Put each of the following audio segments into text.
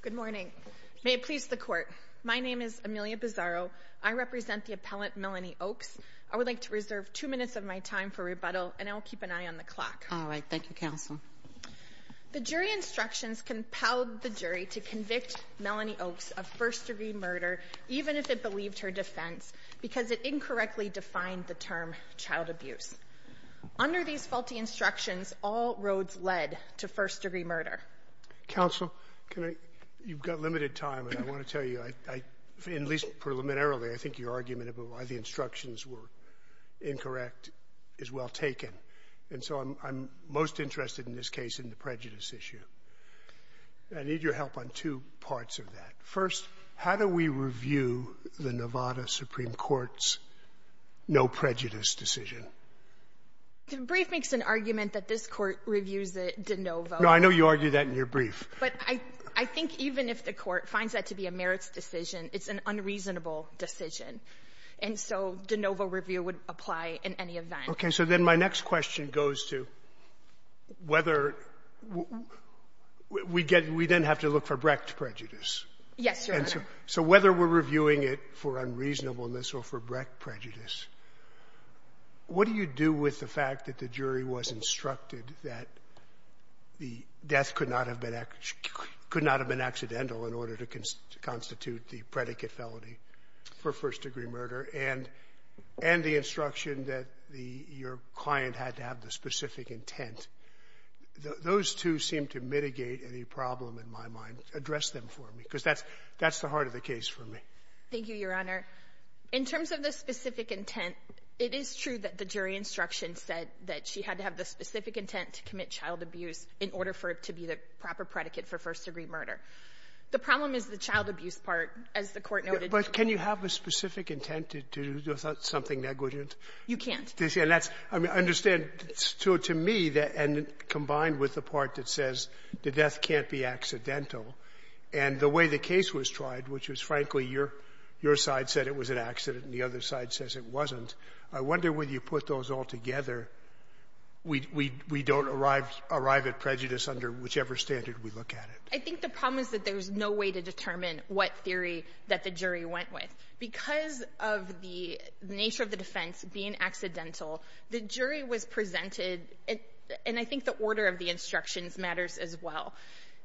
Good morning. May it please the court. My name is Amelia Bizzaro. I represent the appellant Melanie Ochs. I would like to reserve two minutes of my time for rebuttal and I'll keep an eye on the clock. All right, thank you counsel. The jury instructions compelled the jury to convict Melanie Ochs of first-degree murder even if it believed her defense because it incorrectly defined the term child abuse. Under these faulty instructions all roads led to counsel. You've got limited time and I want to tell you, at least preliminarily, I think your argument of why the instructions were incorrect is well taken. And so I'm most interested in this case in the prejudice issue. I need your help on two parts of that. First, how do we review the Nevada Supreme Court's no prejudice decision? The brief makes an argument that this court reviews it. No, I know you argue that in your brief. But I think even if the court finds that to be a merits decision, it's an unreasonable decision. And so de novo review would apply in any event. Okay. So then my next question goes to whether we get, we then have to look for Brecht prejudice. Yes. So whether we're reviewing it for unreasonableness or for Brecht prejudice, what do you do with the fact that the jury was instructed that the death could not have been could not have been accidental in order to constitute the predicate felony for first degree murder and and the instruction that the your client had to have the specific intent. Those two seem to mitigate any problem in my mind. Address them for me because that's that's the heart of the case for me. Thank you, Your Honor. In terms of the specific intent, it is true that the jury instruction said that she had to have the specific intent to commit child abuse in order for it to be the proper predicate for first degree murder. The problem is the child abuse part, as the court noted. But can you have a specific intent to do something negligent? You can't understand. So to me that and combined with the part that says the death can't be accidental and the way the case was tried, which was frankly your your side said it was an accident and the other side says it wasn't. I wonder whether you put those all together. We we we don't arrive arrive at prejudice under whichever standard we look at it. I think the problem is that there's no way to determine what theory that the jury went with because of the nature of the defense being accidental. The jury was presented and I think the order of the instructions matters as well.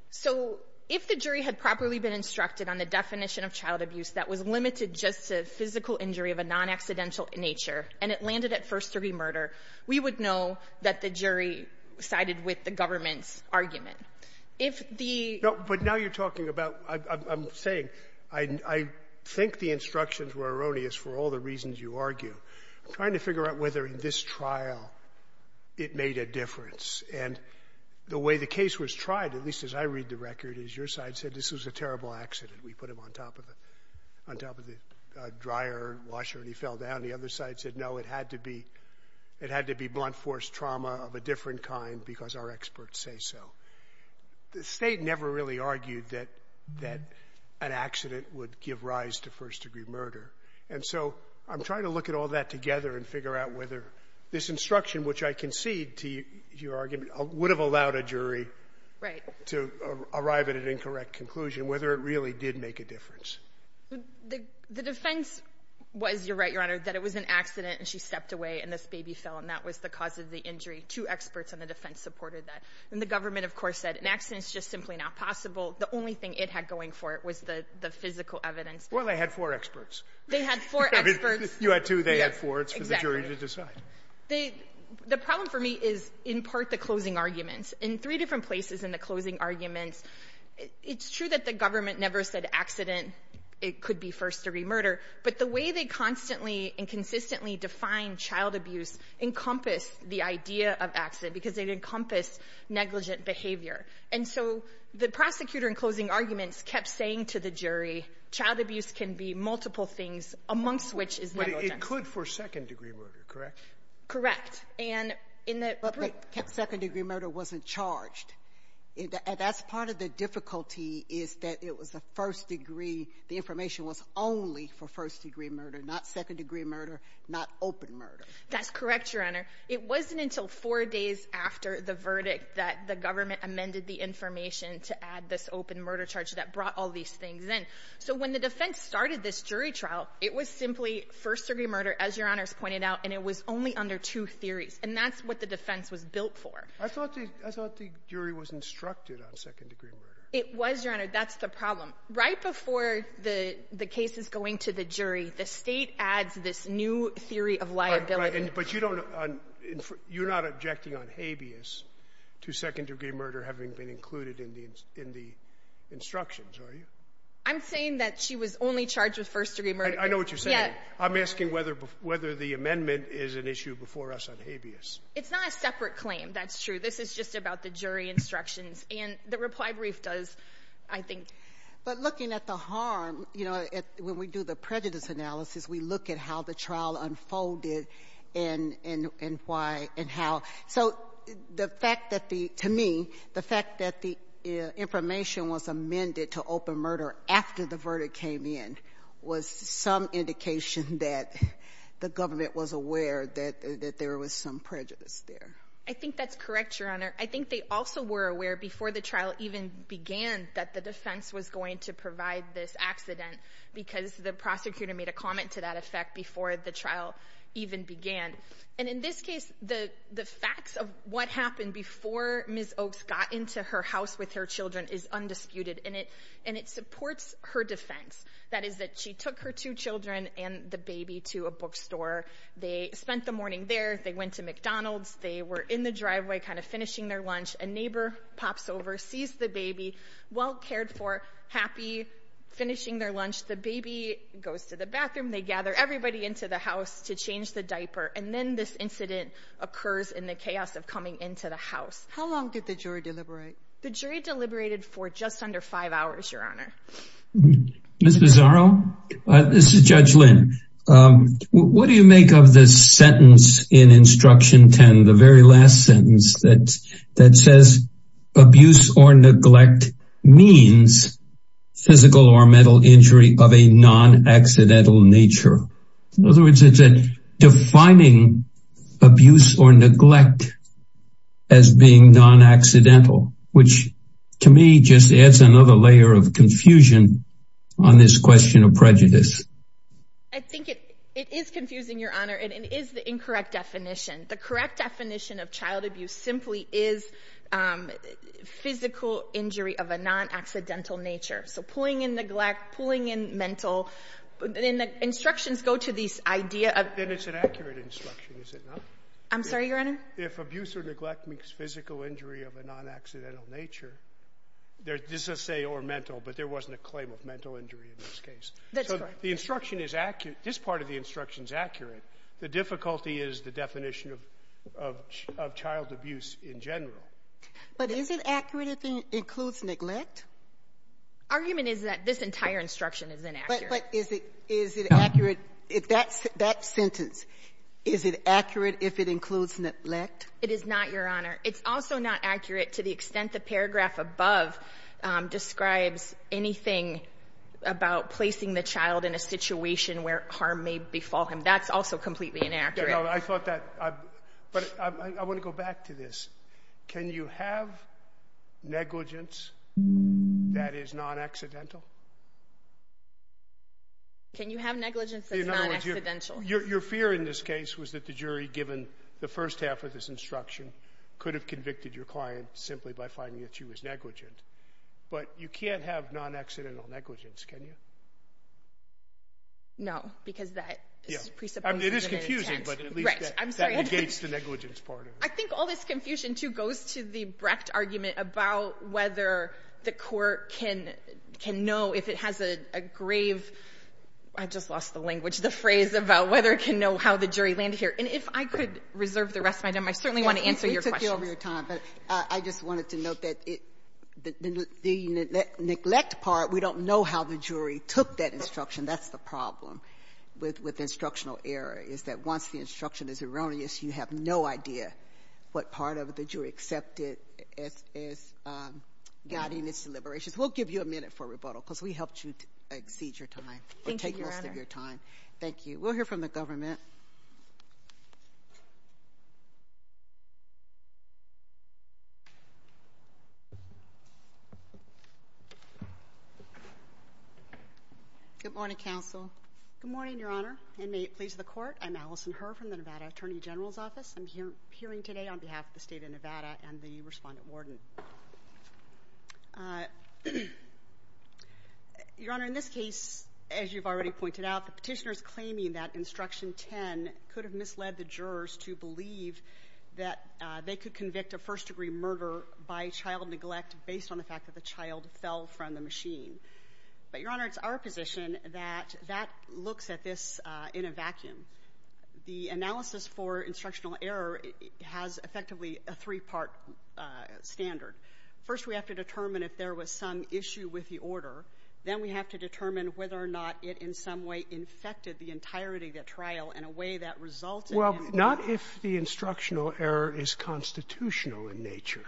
So if the jury had properly been instructed on the definition of child abuse that was limited just to physical injury of a non-accidental nature and it landed at first degree murder, we would know that the jury sided with the government's argument. If the No, but now you're talking about I'm saying I think the instructions were erroneous for all the reasons you argue. Trying to figure out whether in this trial it made a difference and the way the case was tried, at least as I read the record, is your side said this was a terrible accident. We put him on top of the on top of the washer and he fell down. The other side said no it had to be it had to be blunt force trauma of a different kind because our experts say so. The state never really argued that that an accident would give rise to first-degree murder and so I'm trying to look at all that together and figure out whether this instruction which I concede to your argument would have allowed a jury to arrive at an incorrect conclusion whether it really did make a difference. The defense was, you're right your honor, that it was an accident and she stepped away and this baby fell and that was the cause of the injury. Two experts on the defense supported that. And the government of course said an accident is just simply not possible. The only thing it had going for it was the the physical evidence. Well, they had four experts. They had four experts. You had two, they had four. It's for the jury to decide. The problem for me is in part the closing arguments. In three different places in the closing arguments, it's true that the government never said accident, it could be first-degree murder, but the way they constantly and consistently define child abuse encompassed the idea of accident because it encompassed negligent behavior. And so the prosecutor in closing arguments kept saying to the jury, child abuse can be multiple things amongst which is negligence. But it could for second-degree murder, correct? Correct. And in the... But second-degree murder wasn't charged. That's part of the first-degree, the information was only for first-degree murder, not second-degree murder, not open murder. That's correct, Your Honor. It wasn't until four days after the verdict that the government amended the information to add this open murder charge that brought all these things in. So when the defense started this jury trial, it was simply first-degree murder, as Your Honor's pointed out, and it was only under two theories. And that's what the defense was built for. I thought the jury was instructed on second-degree murder. It was, Your Honor. That's the problem. Right before the case is going to the jury, the state adds this new theory of liability. But you don't... You're not objecting on habeas to second-degree murder having been included in the instructions, are you? I'm saying that she was only charged with first-degree murder. I know what you're saying. I'm asking whether the amendment is an issue before us on habeas. It's not a separate claim. That's true. This is just about the jury instructions, and the reply brief does, I think. But looking at the harm, you know, when we do the prejudice analysis, we look at how the trial unfolded and why and how. So the fact that the... To me, the fact that the information was amended to open murder after the verdict came in was some indication that the government was aware that there was some prejudice there. I think they also were aware before the trial even began that the defense was going to provide this accident because the prosecutor made a comment to that effect before the trial even began. And in this case, the facts of what happened before Ms. Oaks got into her house with her children is undisputed, and it supports her defense. That is that she took her two children and the baby to a bookstore. They spent the morning there. They went to McDonald's. They were in the driveway kind of finishing their lunch. A neighbor pops over, sees the baby, well cared for, happy, finishing their lunch. The baby goes to the bathroom. They gather everybody into the house to change the diaper. And then this incident occurs in the chaos of coming into the house. How long did the jury deliberate? The jury deliberated for just under five hours, Your Honor. Ms. Bizarro, this is Judge Lynn. What do you make of this sentence in Instruction 10, the very last sentence that says abuse or neglect means physical or mental injury of a non-accidental nature? In other words, it's defining abuse or neglect as being non-accidental, which to me just adds another layer of confusion on this question of prejudice. I think it is confusing, Your Honor. It is the incorrect definition. The correct definition of child abuse simply is physical injury of a non-accidental nature. So pulling in neglect, pulling in mental, and the instructions go to this idea of... Then it's an accurate instruction, is it not? I'm sorry, Your Honor? If abuse or neglect means physical injury of a non-accidental nature, this is say or mental, but there wasn't a claim of mental injury in this case. That's correct. The instruction is accurate. This part of the instruction is accurate. The difficulty is the definition of child abuse in general. But is it accurate if it includes neglect? Argument is that this entire instruction is inaccurate. But is it accurate, that sentence, is it accurate if it includes neglect? It is not, Your Honor. It's also not accurate to the extent the paragraph above describes anything about placing the child in a situation where harm may fall him. That's also completely inaccurate. I thought that, but I want to go back to this. Can you have negligence that is non-accidental? Can you have negligence that's non-accidental? Your fear in this case was that the jury, given the first half of this instruction, could have convicted your client simply by finding that she was negligent. But you can't have non-accidental negligence, can you? No, because that is a presumption of an intent. It is confusing, but at least that negates the negligence part of it. I think all this confusion, too, goes to the Brecht argument about whether the court can know if it has a grave, I just lost the language, the phrase about whether it can know how the jury land here. And if I could reserve the rest of my time, I certainly want to answer your questions. We took the over your time, but I just wanted to note that the neglect part, we don't know how the jury took that instruction. That's the problem with instructional error, is that once the instruction is erroneous, you have no idea what part of it the jury accepted as guiding its deliberations. We'll give you a minute for rebuttal, because we helped you exceed your time. Thank you, Your Honor. Thank you. We'll hear from the government. Good morning, counsel. Good morning, Your Honor, and may it please the court. I'm Allison Herr from the Nevada Attorney General's Office. I'm here hearing today on behalf of the state of Nevada and the respondent warden. Your Honor, in this case, as you've already pointed out, the petitioners claiming that instruction 10 could have misled the jurors to believe that they could convict a first-degree murder by child neglect based on the fact that the child fell from the machine. But, Your Honor, it's our position that that looks at this in a vacuum. The analysis for instructional error has effectively a three-part standard. First, we have to determine if there was some issue with the order. Then, we have to determine whether or not it in some way infected the entirety of the trial in a way that results in... Well, not if the instructional error is constitutional in nature.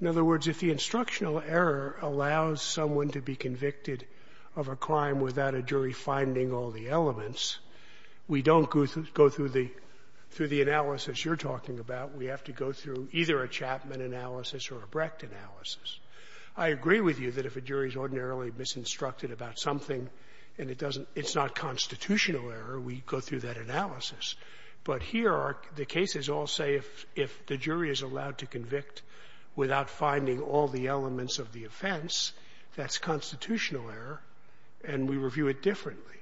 In other words, if the instructional error allows someone to be convicted of a crime without a jury finding all the elements, we don't go through the analysis you're talking about. We have to go through either a Chapman analysis or a Brecht analysis. I agree with you that if a jury is ordinarily misinstructed about something and it's not constitutional error, we go through that analysis. But here, the cases all say if the jury is allowed to convict without finding all the elements of the offense, that's constitutional error, and we review it differently.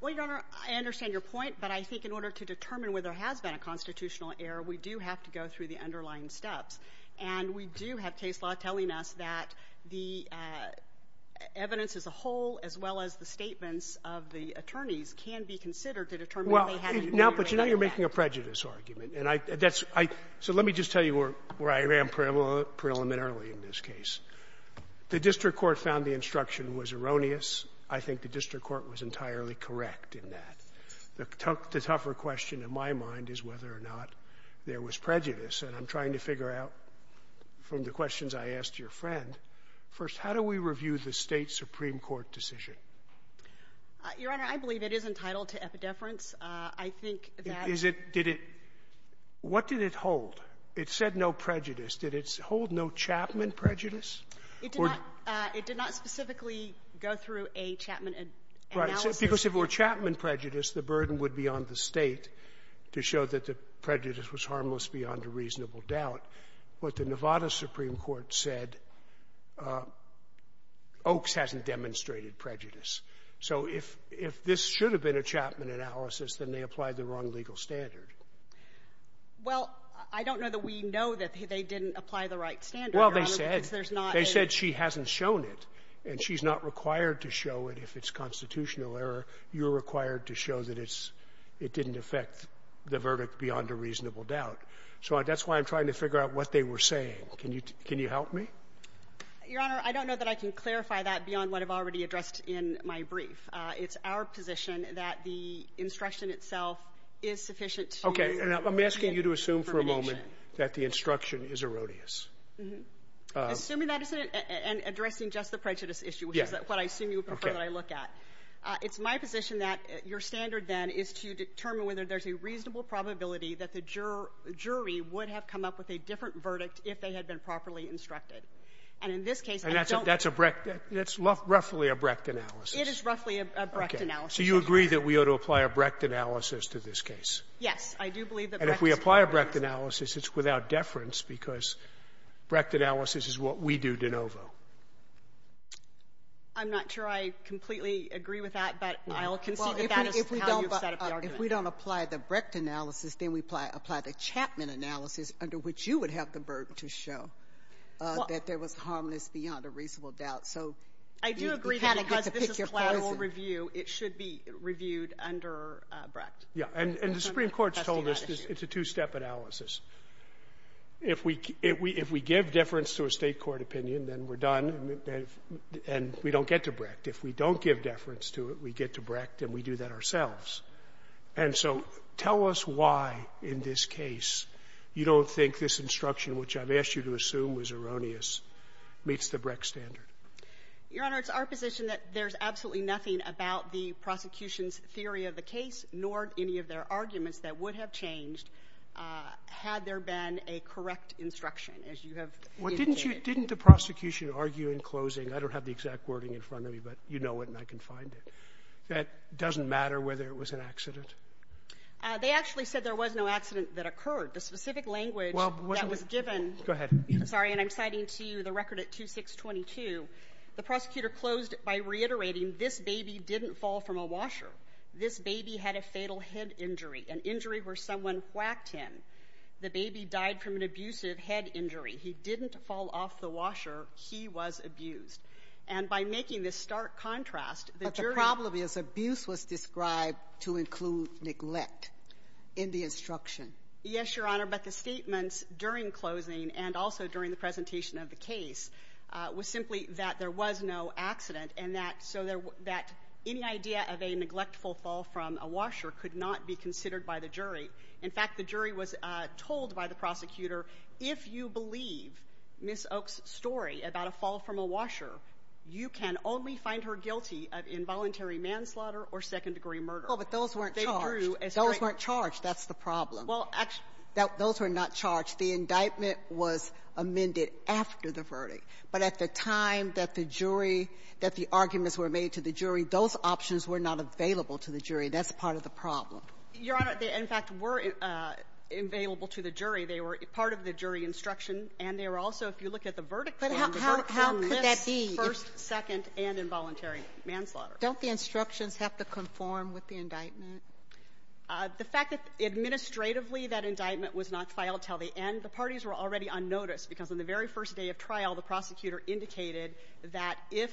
Well, Your Honor, I understand your point, but I think in order to determine whether there has been a constitutional error, we do have to go through the underlying steps. And we do have case law telling us that the evidence as a whole, as well as the statements of the attorneys, can be considered to determine whether they had a... Well, now, but you know you're making a prejudice argument. And I — that's — I — so let me just tell you where I ran parallel — preliminarily in this case. The district court found the instruction was erroneous. I think the district court was entirely correct in that. The tougher question in my mind is whether or not there was prejudice. And I'm trying to figure out from the questions I asked your friend, first, how do we review the State supreme court decision? Your Honor, I believe it is entitled to epidepherence. I think that... Is it — did it — what did it hold? It said no prejudice. Did it hold no Chapman prejudice? It did not — it did not specifically go through a Chapman analysis. Right. Because if it were Chapman prejudice, the burden would be on the State to show that the prejudice was harmless beyond a reasonable doubt. But the Nevada supreme court said Oaks hasn't demonstrated prejudice. So if — if this should have been a Chapman analysis, then they applied the wrong legal standard. Well, I don't know that we know that they didn't apply the right standard, Your Honor. Well, they said — Because there's not a — They said she hasn't shown it. And she's not required to show it if it's constitutional error. You're required to show that it's — it didn't affect the verdict beyond a reasonable doubt. So that's why I'm trying to figure out what they were saying. Can you — can you help me? Your Honor, I don't know that I can clarify that beyond what I've already addressed in my brief. It's our position that the instruction itself is sufficient to — Okay. And I'm asking you to assume for a moment that the instruction is erroneous. Assuming that isn't — and addressing just the prejudice issue, which is what I assume you would prefer that I look at. It's my position that your standard then is to determine whether there's a reasonable probability that the jury would have come up with a different verdict if they had been properly instructed. And in this case — And that's a — that's a Brecht — that's roughly a Brecht analysis. It is roughly a Brecht analysis. Okay. So you agree that we ought to apply a Brecht analysis to this case? Yes. I do believe that Brecht is — And if we apply a Brecht analysis, it's without deference because Brecht analysis is what we do de novo. I'm not sure I completely agree with that, but I'll concede that that is how you've set up the argument. Well, if we don't — if we don't apply the Brecht analysis, then we apply the Chapman analysis, under which you would have the burden to show that there was harmless beyond a reasonable doubt. So you kind of get to pick your poison. I do agree that because this is collateral review, it should be reviewed under Brecht. Yeah. And the Supreme Court's told us it's a two-step analysis. If we — if we give deference to a state court opinion, then we're done and we don't get to Brecht. If we don't give deference to it, we get to Brecht and we do that ourselves. And so tell us why, in this case, you don't think this instruction, which I've asked you to assume was erroneous, meets the Brecht standard. Your Honor, it's our position that there's absolutely nothing about the prosecution's theory of the case, nor any of their arguments that would have changed, had there been a correct instruction, as you have indicated. Well, didn't you — didn't the prosecution argue in closing — I don't have the exact wording in front of me, but you know it and I can find it — that it doesn't matter whether it was an accident? They actually said there was no accident that occurred. The specific language that was given — Go ahead. Sorry, and I'm citing to you the record at 2-6-22. The prosecutor closed by reiterating this baby didn't fall from a washer. This baby had a fatal head injury, an injury where someone whacked him. The baby died from an abusive head injury. He didn't fall off the washer. He was abused. And by making this stark contrast, the jury — Yes, Your Honor, but the statements during closing, and also during the presentation of the case, was simply that there was no accident and that — so that any idea of a neglectful fall from a washer could not be considered by the jury. In fact, the jury was told by the prosecutor, if you believe Ms. Oaks' story about a fall from a washer, you can only find her guilty of involuntary manslaughter or second-degree murder. Well, but those weren't charged. Those weren't charged. That's the problem. Well, actually — Those were not charged. The indictment was amended after the verdict. But at the time that the jury — that the arguments were made to the jury, those options were not available to the jury. That's part of the problem. Your Honor, they, in fact, were available to the jury. They were part of the jury instruction, and they were also, if you look at the verdict plan, the verdict plan lists first, second, and involuntary manslaughter. Don't the instructions have to conform with the indictment? The fact that, administratively, that indictment was not filed until the end, the parties were already on notice, because on the very first day of trial, the prosecutor indicated that if,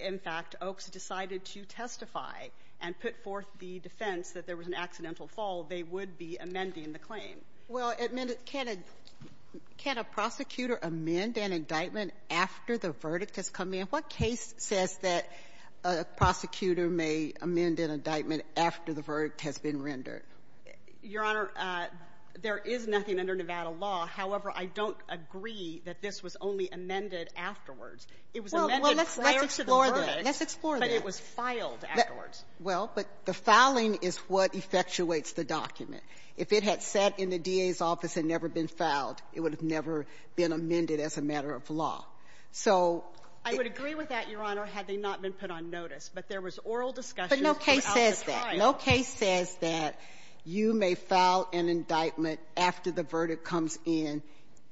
in fact, Oaks decided to testify and put forth the defense that there was an accidental fall, they would be amending the claim. Well, can a prosecutor amend an indictment after the verdict has come in? What case says that a prosecutor may amend an indictment after the verdict has been rendered? Your Honor, there is nothing under Nevada law. However, I don't agree that this was only amended afterwards. It was amended prior to the verdict. Well, let's explore that. Let's explore that. But it was filed afterwards. Well, but the filing is what effectuates the document. If it had sat in the DA's office and never been filed, it would have never been amended as a matter of law. So — I would agree with that, Your Honor, had they not been put on notice. But there was oral discussion throughout the trial. But no case says that. No case says that you may file an indictment after the verdict comes in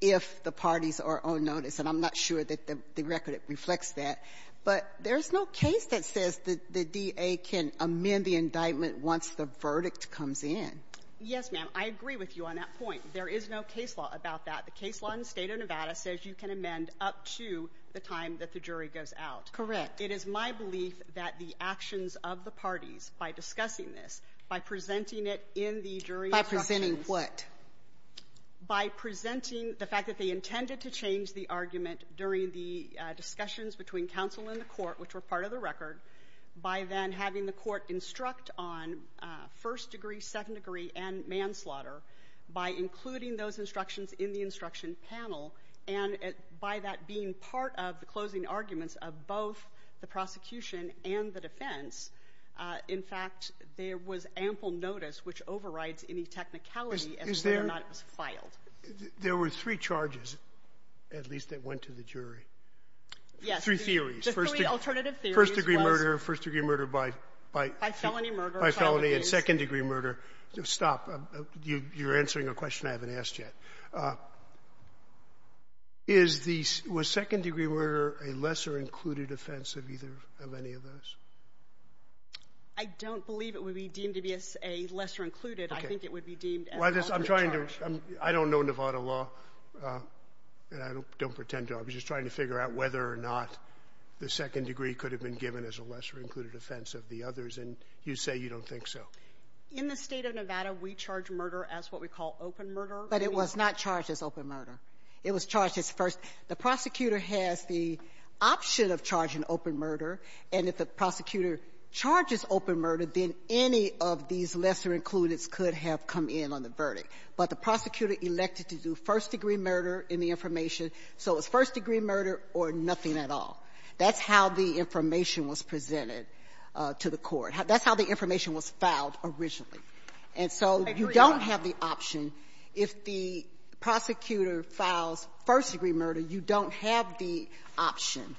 if the parties are on notice. And I'm not sure that the record reflects that. But there's no case that says that the DA can amend the indictment once the verdict comes in. Yes, ma'am. I agree with you on that point. There is no case law about that. The case law in the state of Nevada says you can amend up to the time that the jury goes out. Correct. It is my belief that the actions of the parties, by discussing this, by presenting it in the jury's instructions — By presenting what? By presenting the fact that they intended to change the argument during the discussions between counsel and the court, which were part of the record, by then having the court instruct on first degree, second degree, and manslaughter, by including those instructions in the instruction panel. And by that being part of the closing arguments of both the prosecution and the defense, in fact, there was ample notice which overrides any technicality as to whether or not it was filed. There were three charges, at least, that went to the jury. Yes. Three theories. Just three alternative theories. First-degree murder, first-degree murder by — By felony murder. By felony and second-degree murder. Stop. You're answering a question I haven't asked yet. Was second-degree murder a lesser-included offense of any of those? I don't believe it would be deemed to be a lesser-included. I think it would be deemed as an open charge. I'm trying to — I don't know Nevada law, and I don't pretend to. I was just trying to figure out whether or not the second degree could have been given as a lesser-included offense of the others, and you say you don't think so. In the state of Nevada, we charge murder as what we call open murder. But it was not charged as open murder. It was charged as first — the prosecutor has the option of charging open murder, and if the prosecutor charges open murder, then any of these lesser-included could have come in on the verdict. But the prosecutor elected to do first-degree murder in the information, so it's first-degree murder or nothing at all. That's how the information was presented to the Court. That's how the information was filed originally. And so you don't have the option. If the prosecutor files first-degree murder, you don't have the option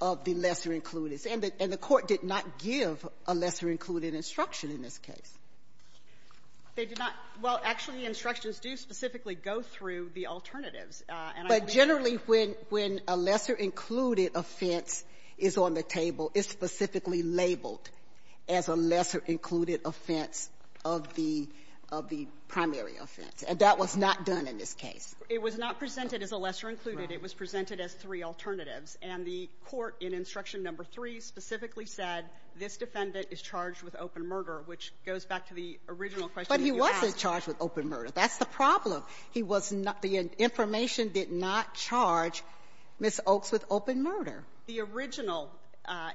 of the lesser-included. And the Court did not give a lesser-included instruction in this case. They did not. Well, actually, the instructions do specifically go through the alternatives. But generally, when — when a lesser-included offense is on the table, it's specifically labeled as a lesser-included offense of the — of the primary offense. And that was not done in this case. It was not presented as a lesser-included. It was presented as three alternatives. And the Court, in Instruction No. 3, specifically said this defendant is charged with open murder, which goes back to the original question you asked. But he wasn't charged with open murder. That's the problem. He was not — the information did not charge Ms. Oaks with open murder. The original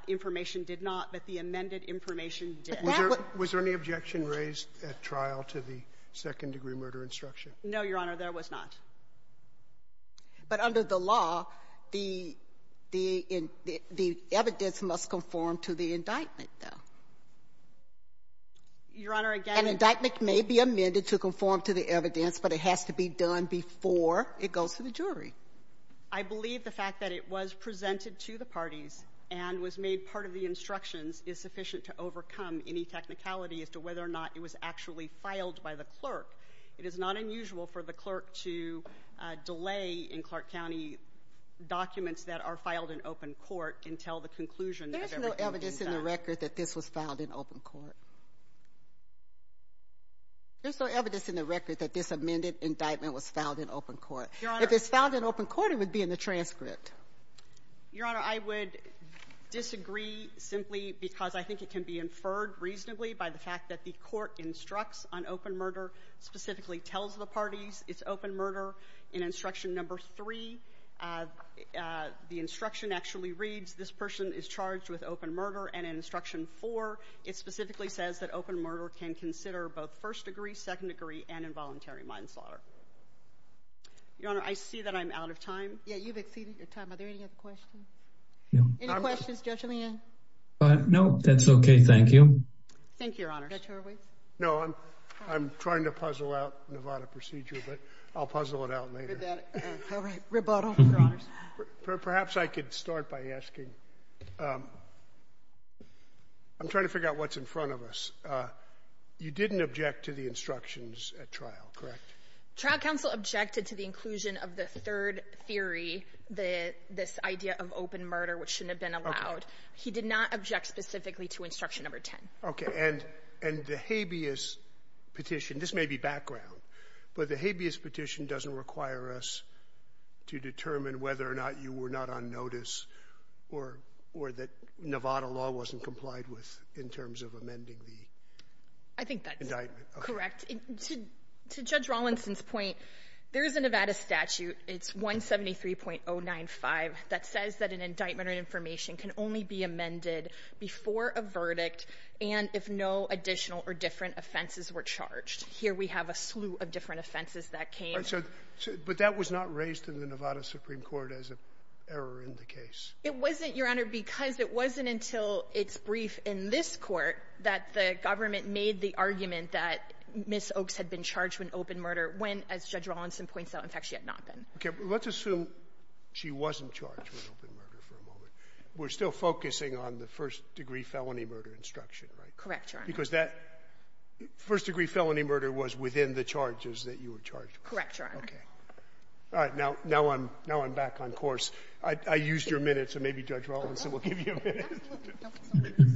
information did not, but the amended information did. Was there any objection raised at trial to the second-degree murder instruction? No, Your Honor, there was not. But under the law, the — the evidence must conform to the indictment, though. Your Honor, again — An indictment may be amended to conform to the evidence, but it has to be done before it goes to the jury. I believe the fact that it was presented to the parties and was made part of the instructions is sufficient to overcome any technicality as to whether or not it was actually filed by the clerk. It is not unusual for the clerk to delay, in Clark County, documents that are filed in open court until the conclusion of everything is done. There's no evidence in the record that this was filed in open court. There's no evidence in the record that this amended indictment was filed in open court. Your Honor — If it's found in open court, it would be in the transcript. Your Honor, I would disagree simply because I think it can be inferred reasonably by the fact that the court instructs on open murder, specifically tells the parties it's open murder. In instruction number three, the instruction actually reads, this person is charged with open murder. And in instruction four, it specifically says that open murder can consider both first-degree, second-degree, and involuntary manslaughter. Your Honor, I see that I'm out of time. Yeah, you've exceeded your time. Are there any other questions? No. Any questions? Judge Leanne? No, that's okay. Thank you. Thank you, Your Honor. Judge Horwitz? No, I'm trying to puzzle out Nevada procedure, but I'll puzzle it out later. All right. Rebuttal, Your Honors. Perhaps I could start by asking — I'm trying to figure out what's in front of us. You didn't object to the instructions at trial, correct? Trial counsel objected to the inclusion of the third theory, this idea of open murder, which shouldn't have been allowed. He did not object specifically to instruction number 10. Okay. And the habeas petition — this may be background, but the habeas petition doesn't require us to determine whether or not you were not on notice or that Nevada law wasn't complied with in terms of amending the indictment. I think that's correct. To Judge Rawlinson's point, there is a Nevada statute — it's 173.095 — that says that an indictment or information can only be amended before a verdict and if no additional or different offenses were charged. Here we have a slew of different offenses that came. But that was not raised in the Nevada Supreme Court as an error in the case. It wasn't, Your Honor, because it wasn't until its brief in this court that the government made the argument that Ms. Oaks had been charged with open murder when, as Judge Rawlinson points out, in fact, she had not been. Let's assume she wasn't charged with open murder for a moment. We're still focusing on the first-degree felony murder instruction, right? Correct, Your Honor. Because that first-degree felony murder was within the charges that you were charged with. Correct, Your Honor. Okay. All right. Now I'm back on course. I used your minute, so maybe Judge Rawlinson will give you a minute.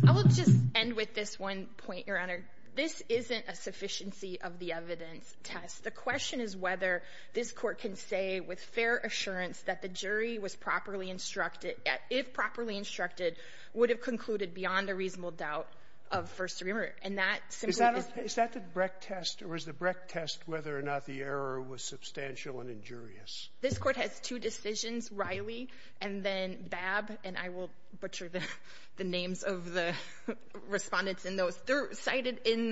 I will just end with this one point, Your Honor. This isn't a sufficiency-of-the-evidence test. The question is whether this Court can say with fair assurance that the jury was properly instructed, if properly instructed, would have concluded beyond a reasonable doubt of first-degree murder. And that simply is — Is that the Brecht test, or is the Brecht test whether or not the error was substantial and injurious? This Court has two decisions, Riley and then Babb. And I will butcher the names of the respondents in those. They're cited in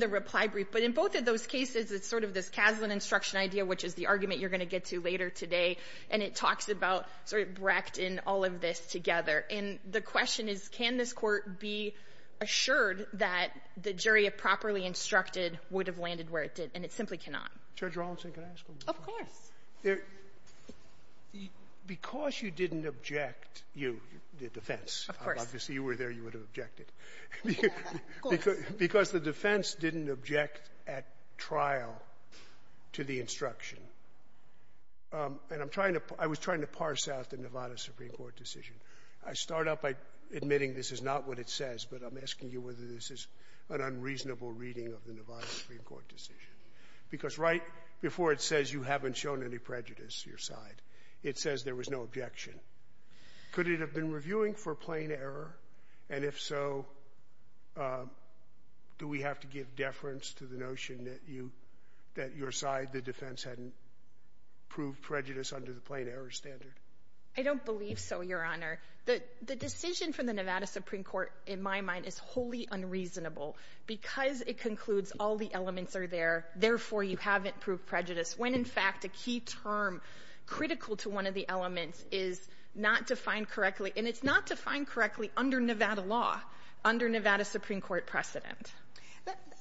the reply brief. But in both of those cases, it's sort of this Kaslan instruction idea, which is the argument you're going to get to later today. And it talks about Brecht and all of this together. And the question is, can this Court be assured that the jury, if properly instructed, would have landed where it did? And it simply cannot. Judge Rawlinson, can I ask one more question? Of course. There — because you didn't object — you, the defense. Of course. Obviously, you were there. You would have objected. Of course. Because the defense didn't object at trial to the instruction, and I'm trying to — I was trying to parse out the Nevada Supreme Court decision. I start out by admitting this is not what it says, but I'm asking you whether this is an unreasonable reading of the Nevada Supreme Court decision. Because right before it says you haven't shown any prejudice, your side, it says there was no objection. Could it have been reviewing for plain error? And if so, do we have to give deference to the notion that you — that your side, the defense, hadn't proved prejudice under the plain error standard? I don't believe so, Your Honor. The decision from the Nevada Supreme Court, in my mind, is wholly unreasonable because it concludes all the elements are there, therefore you haven't proved prejudice, when in fact a key term critical to one of the elements is not defined correctly, and it's not defined correctly under Nevada law, under Nevada Supreme Court precedent.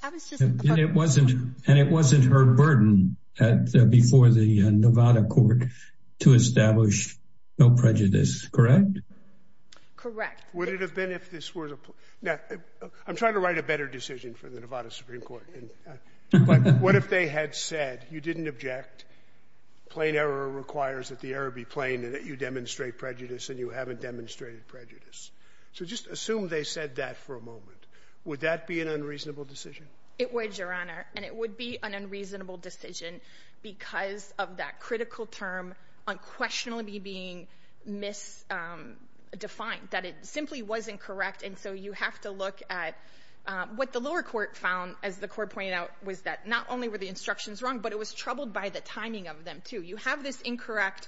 That was just a point — And it wasn't — and it wasn't her burden before the Nevada court to establish no prejudice, correct? Correct. Would it have been if this was a — now, I'm trying to write a better decision for the Nevada Supreme Court, but what if they had said you didn't object, plain error requires that the error be plain, and that you demonstrate prejudice, and you haven't demonstrated prejudice? So just assume they said that for a moment. Would that be an unreasonable decision? It would, Your Honor, and it would be an unreasonable decision because of that critical term unquestionably being misdefined, that it simply wasn't correct, and so you have to look at what the lower court found, as the court pointed out, was that not only were the instructions wrong, but it was troubled by the timing of them, too. You have this incorrect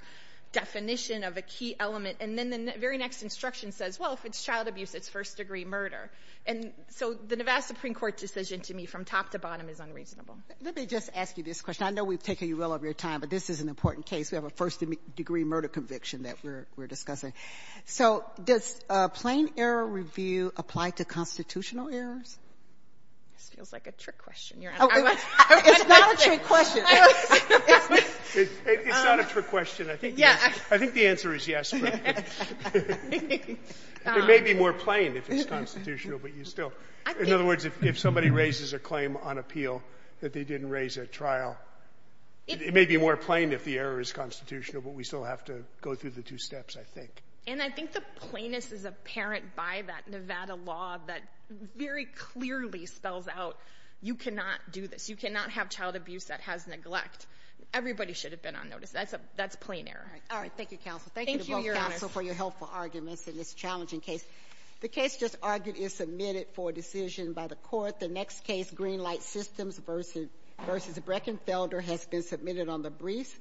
definition of a key element, and then the very next instruction says, well, if it's child abuse, it's first-degree murder, and so the Nevada Supreme Court decision to me from top to bottom is unreasonable. Let me just ask you this question. I know we've taken you well over your time, but this is an important case. We have a first-degree murder conviction that we're discussing. So does a plain error review apply to constitutional errors? This feels like a trick question, Your Honor. It's not a trick question. It's not a trick question, I think. I think the answer is yes, but it may be more plain if it's constitutional, but you still – in other words, if somebody raises a claim on appeal that they didn't raise at trial, it may be more plain if the error is constitutional, but we still have to go through the two steps, I think. And I think the plainness is apparent by that Nevada law that very clearly spells out you cannot do this. You cannot have child abuse that has neglect. Everybody should have been on notice. That's a plain error. All right. Thank you, counsel. Thank you to both counsel for your helpful arguments in this challenging case. The case just argued is submitted for decision by the court. The next case, Greenlight Systems v. Breckenfelder, has been submitted on the brief.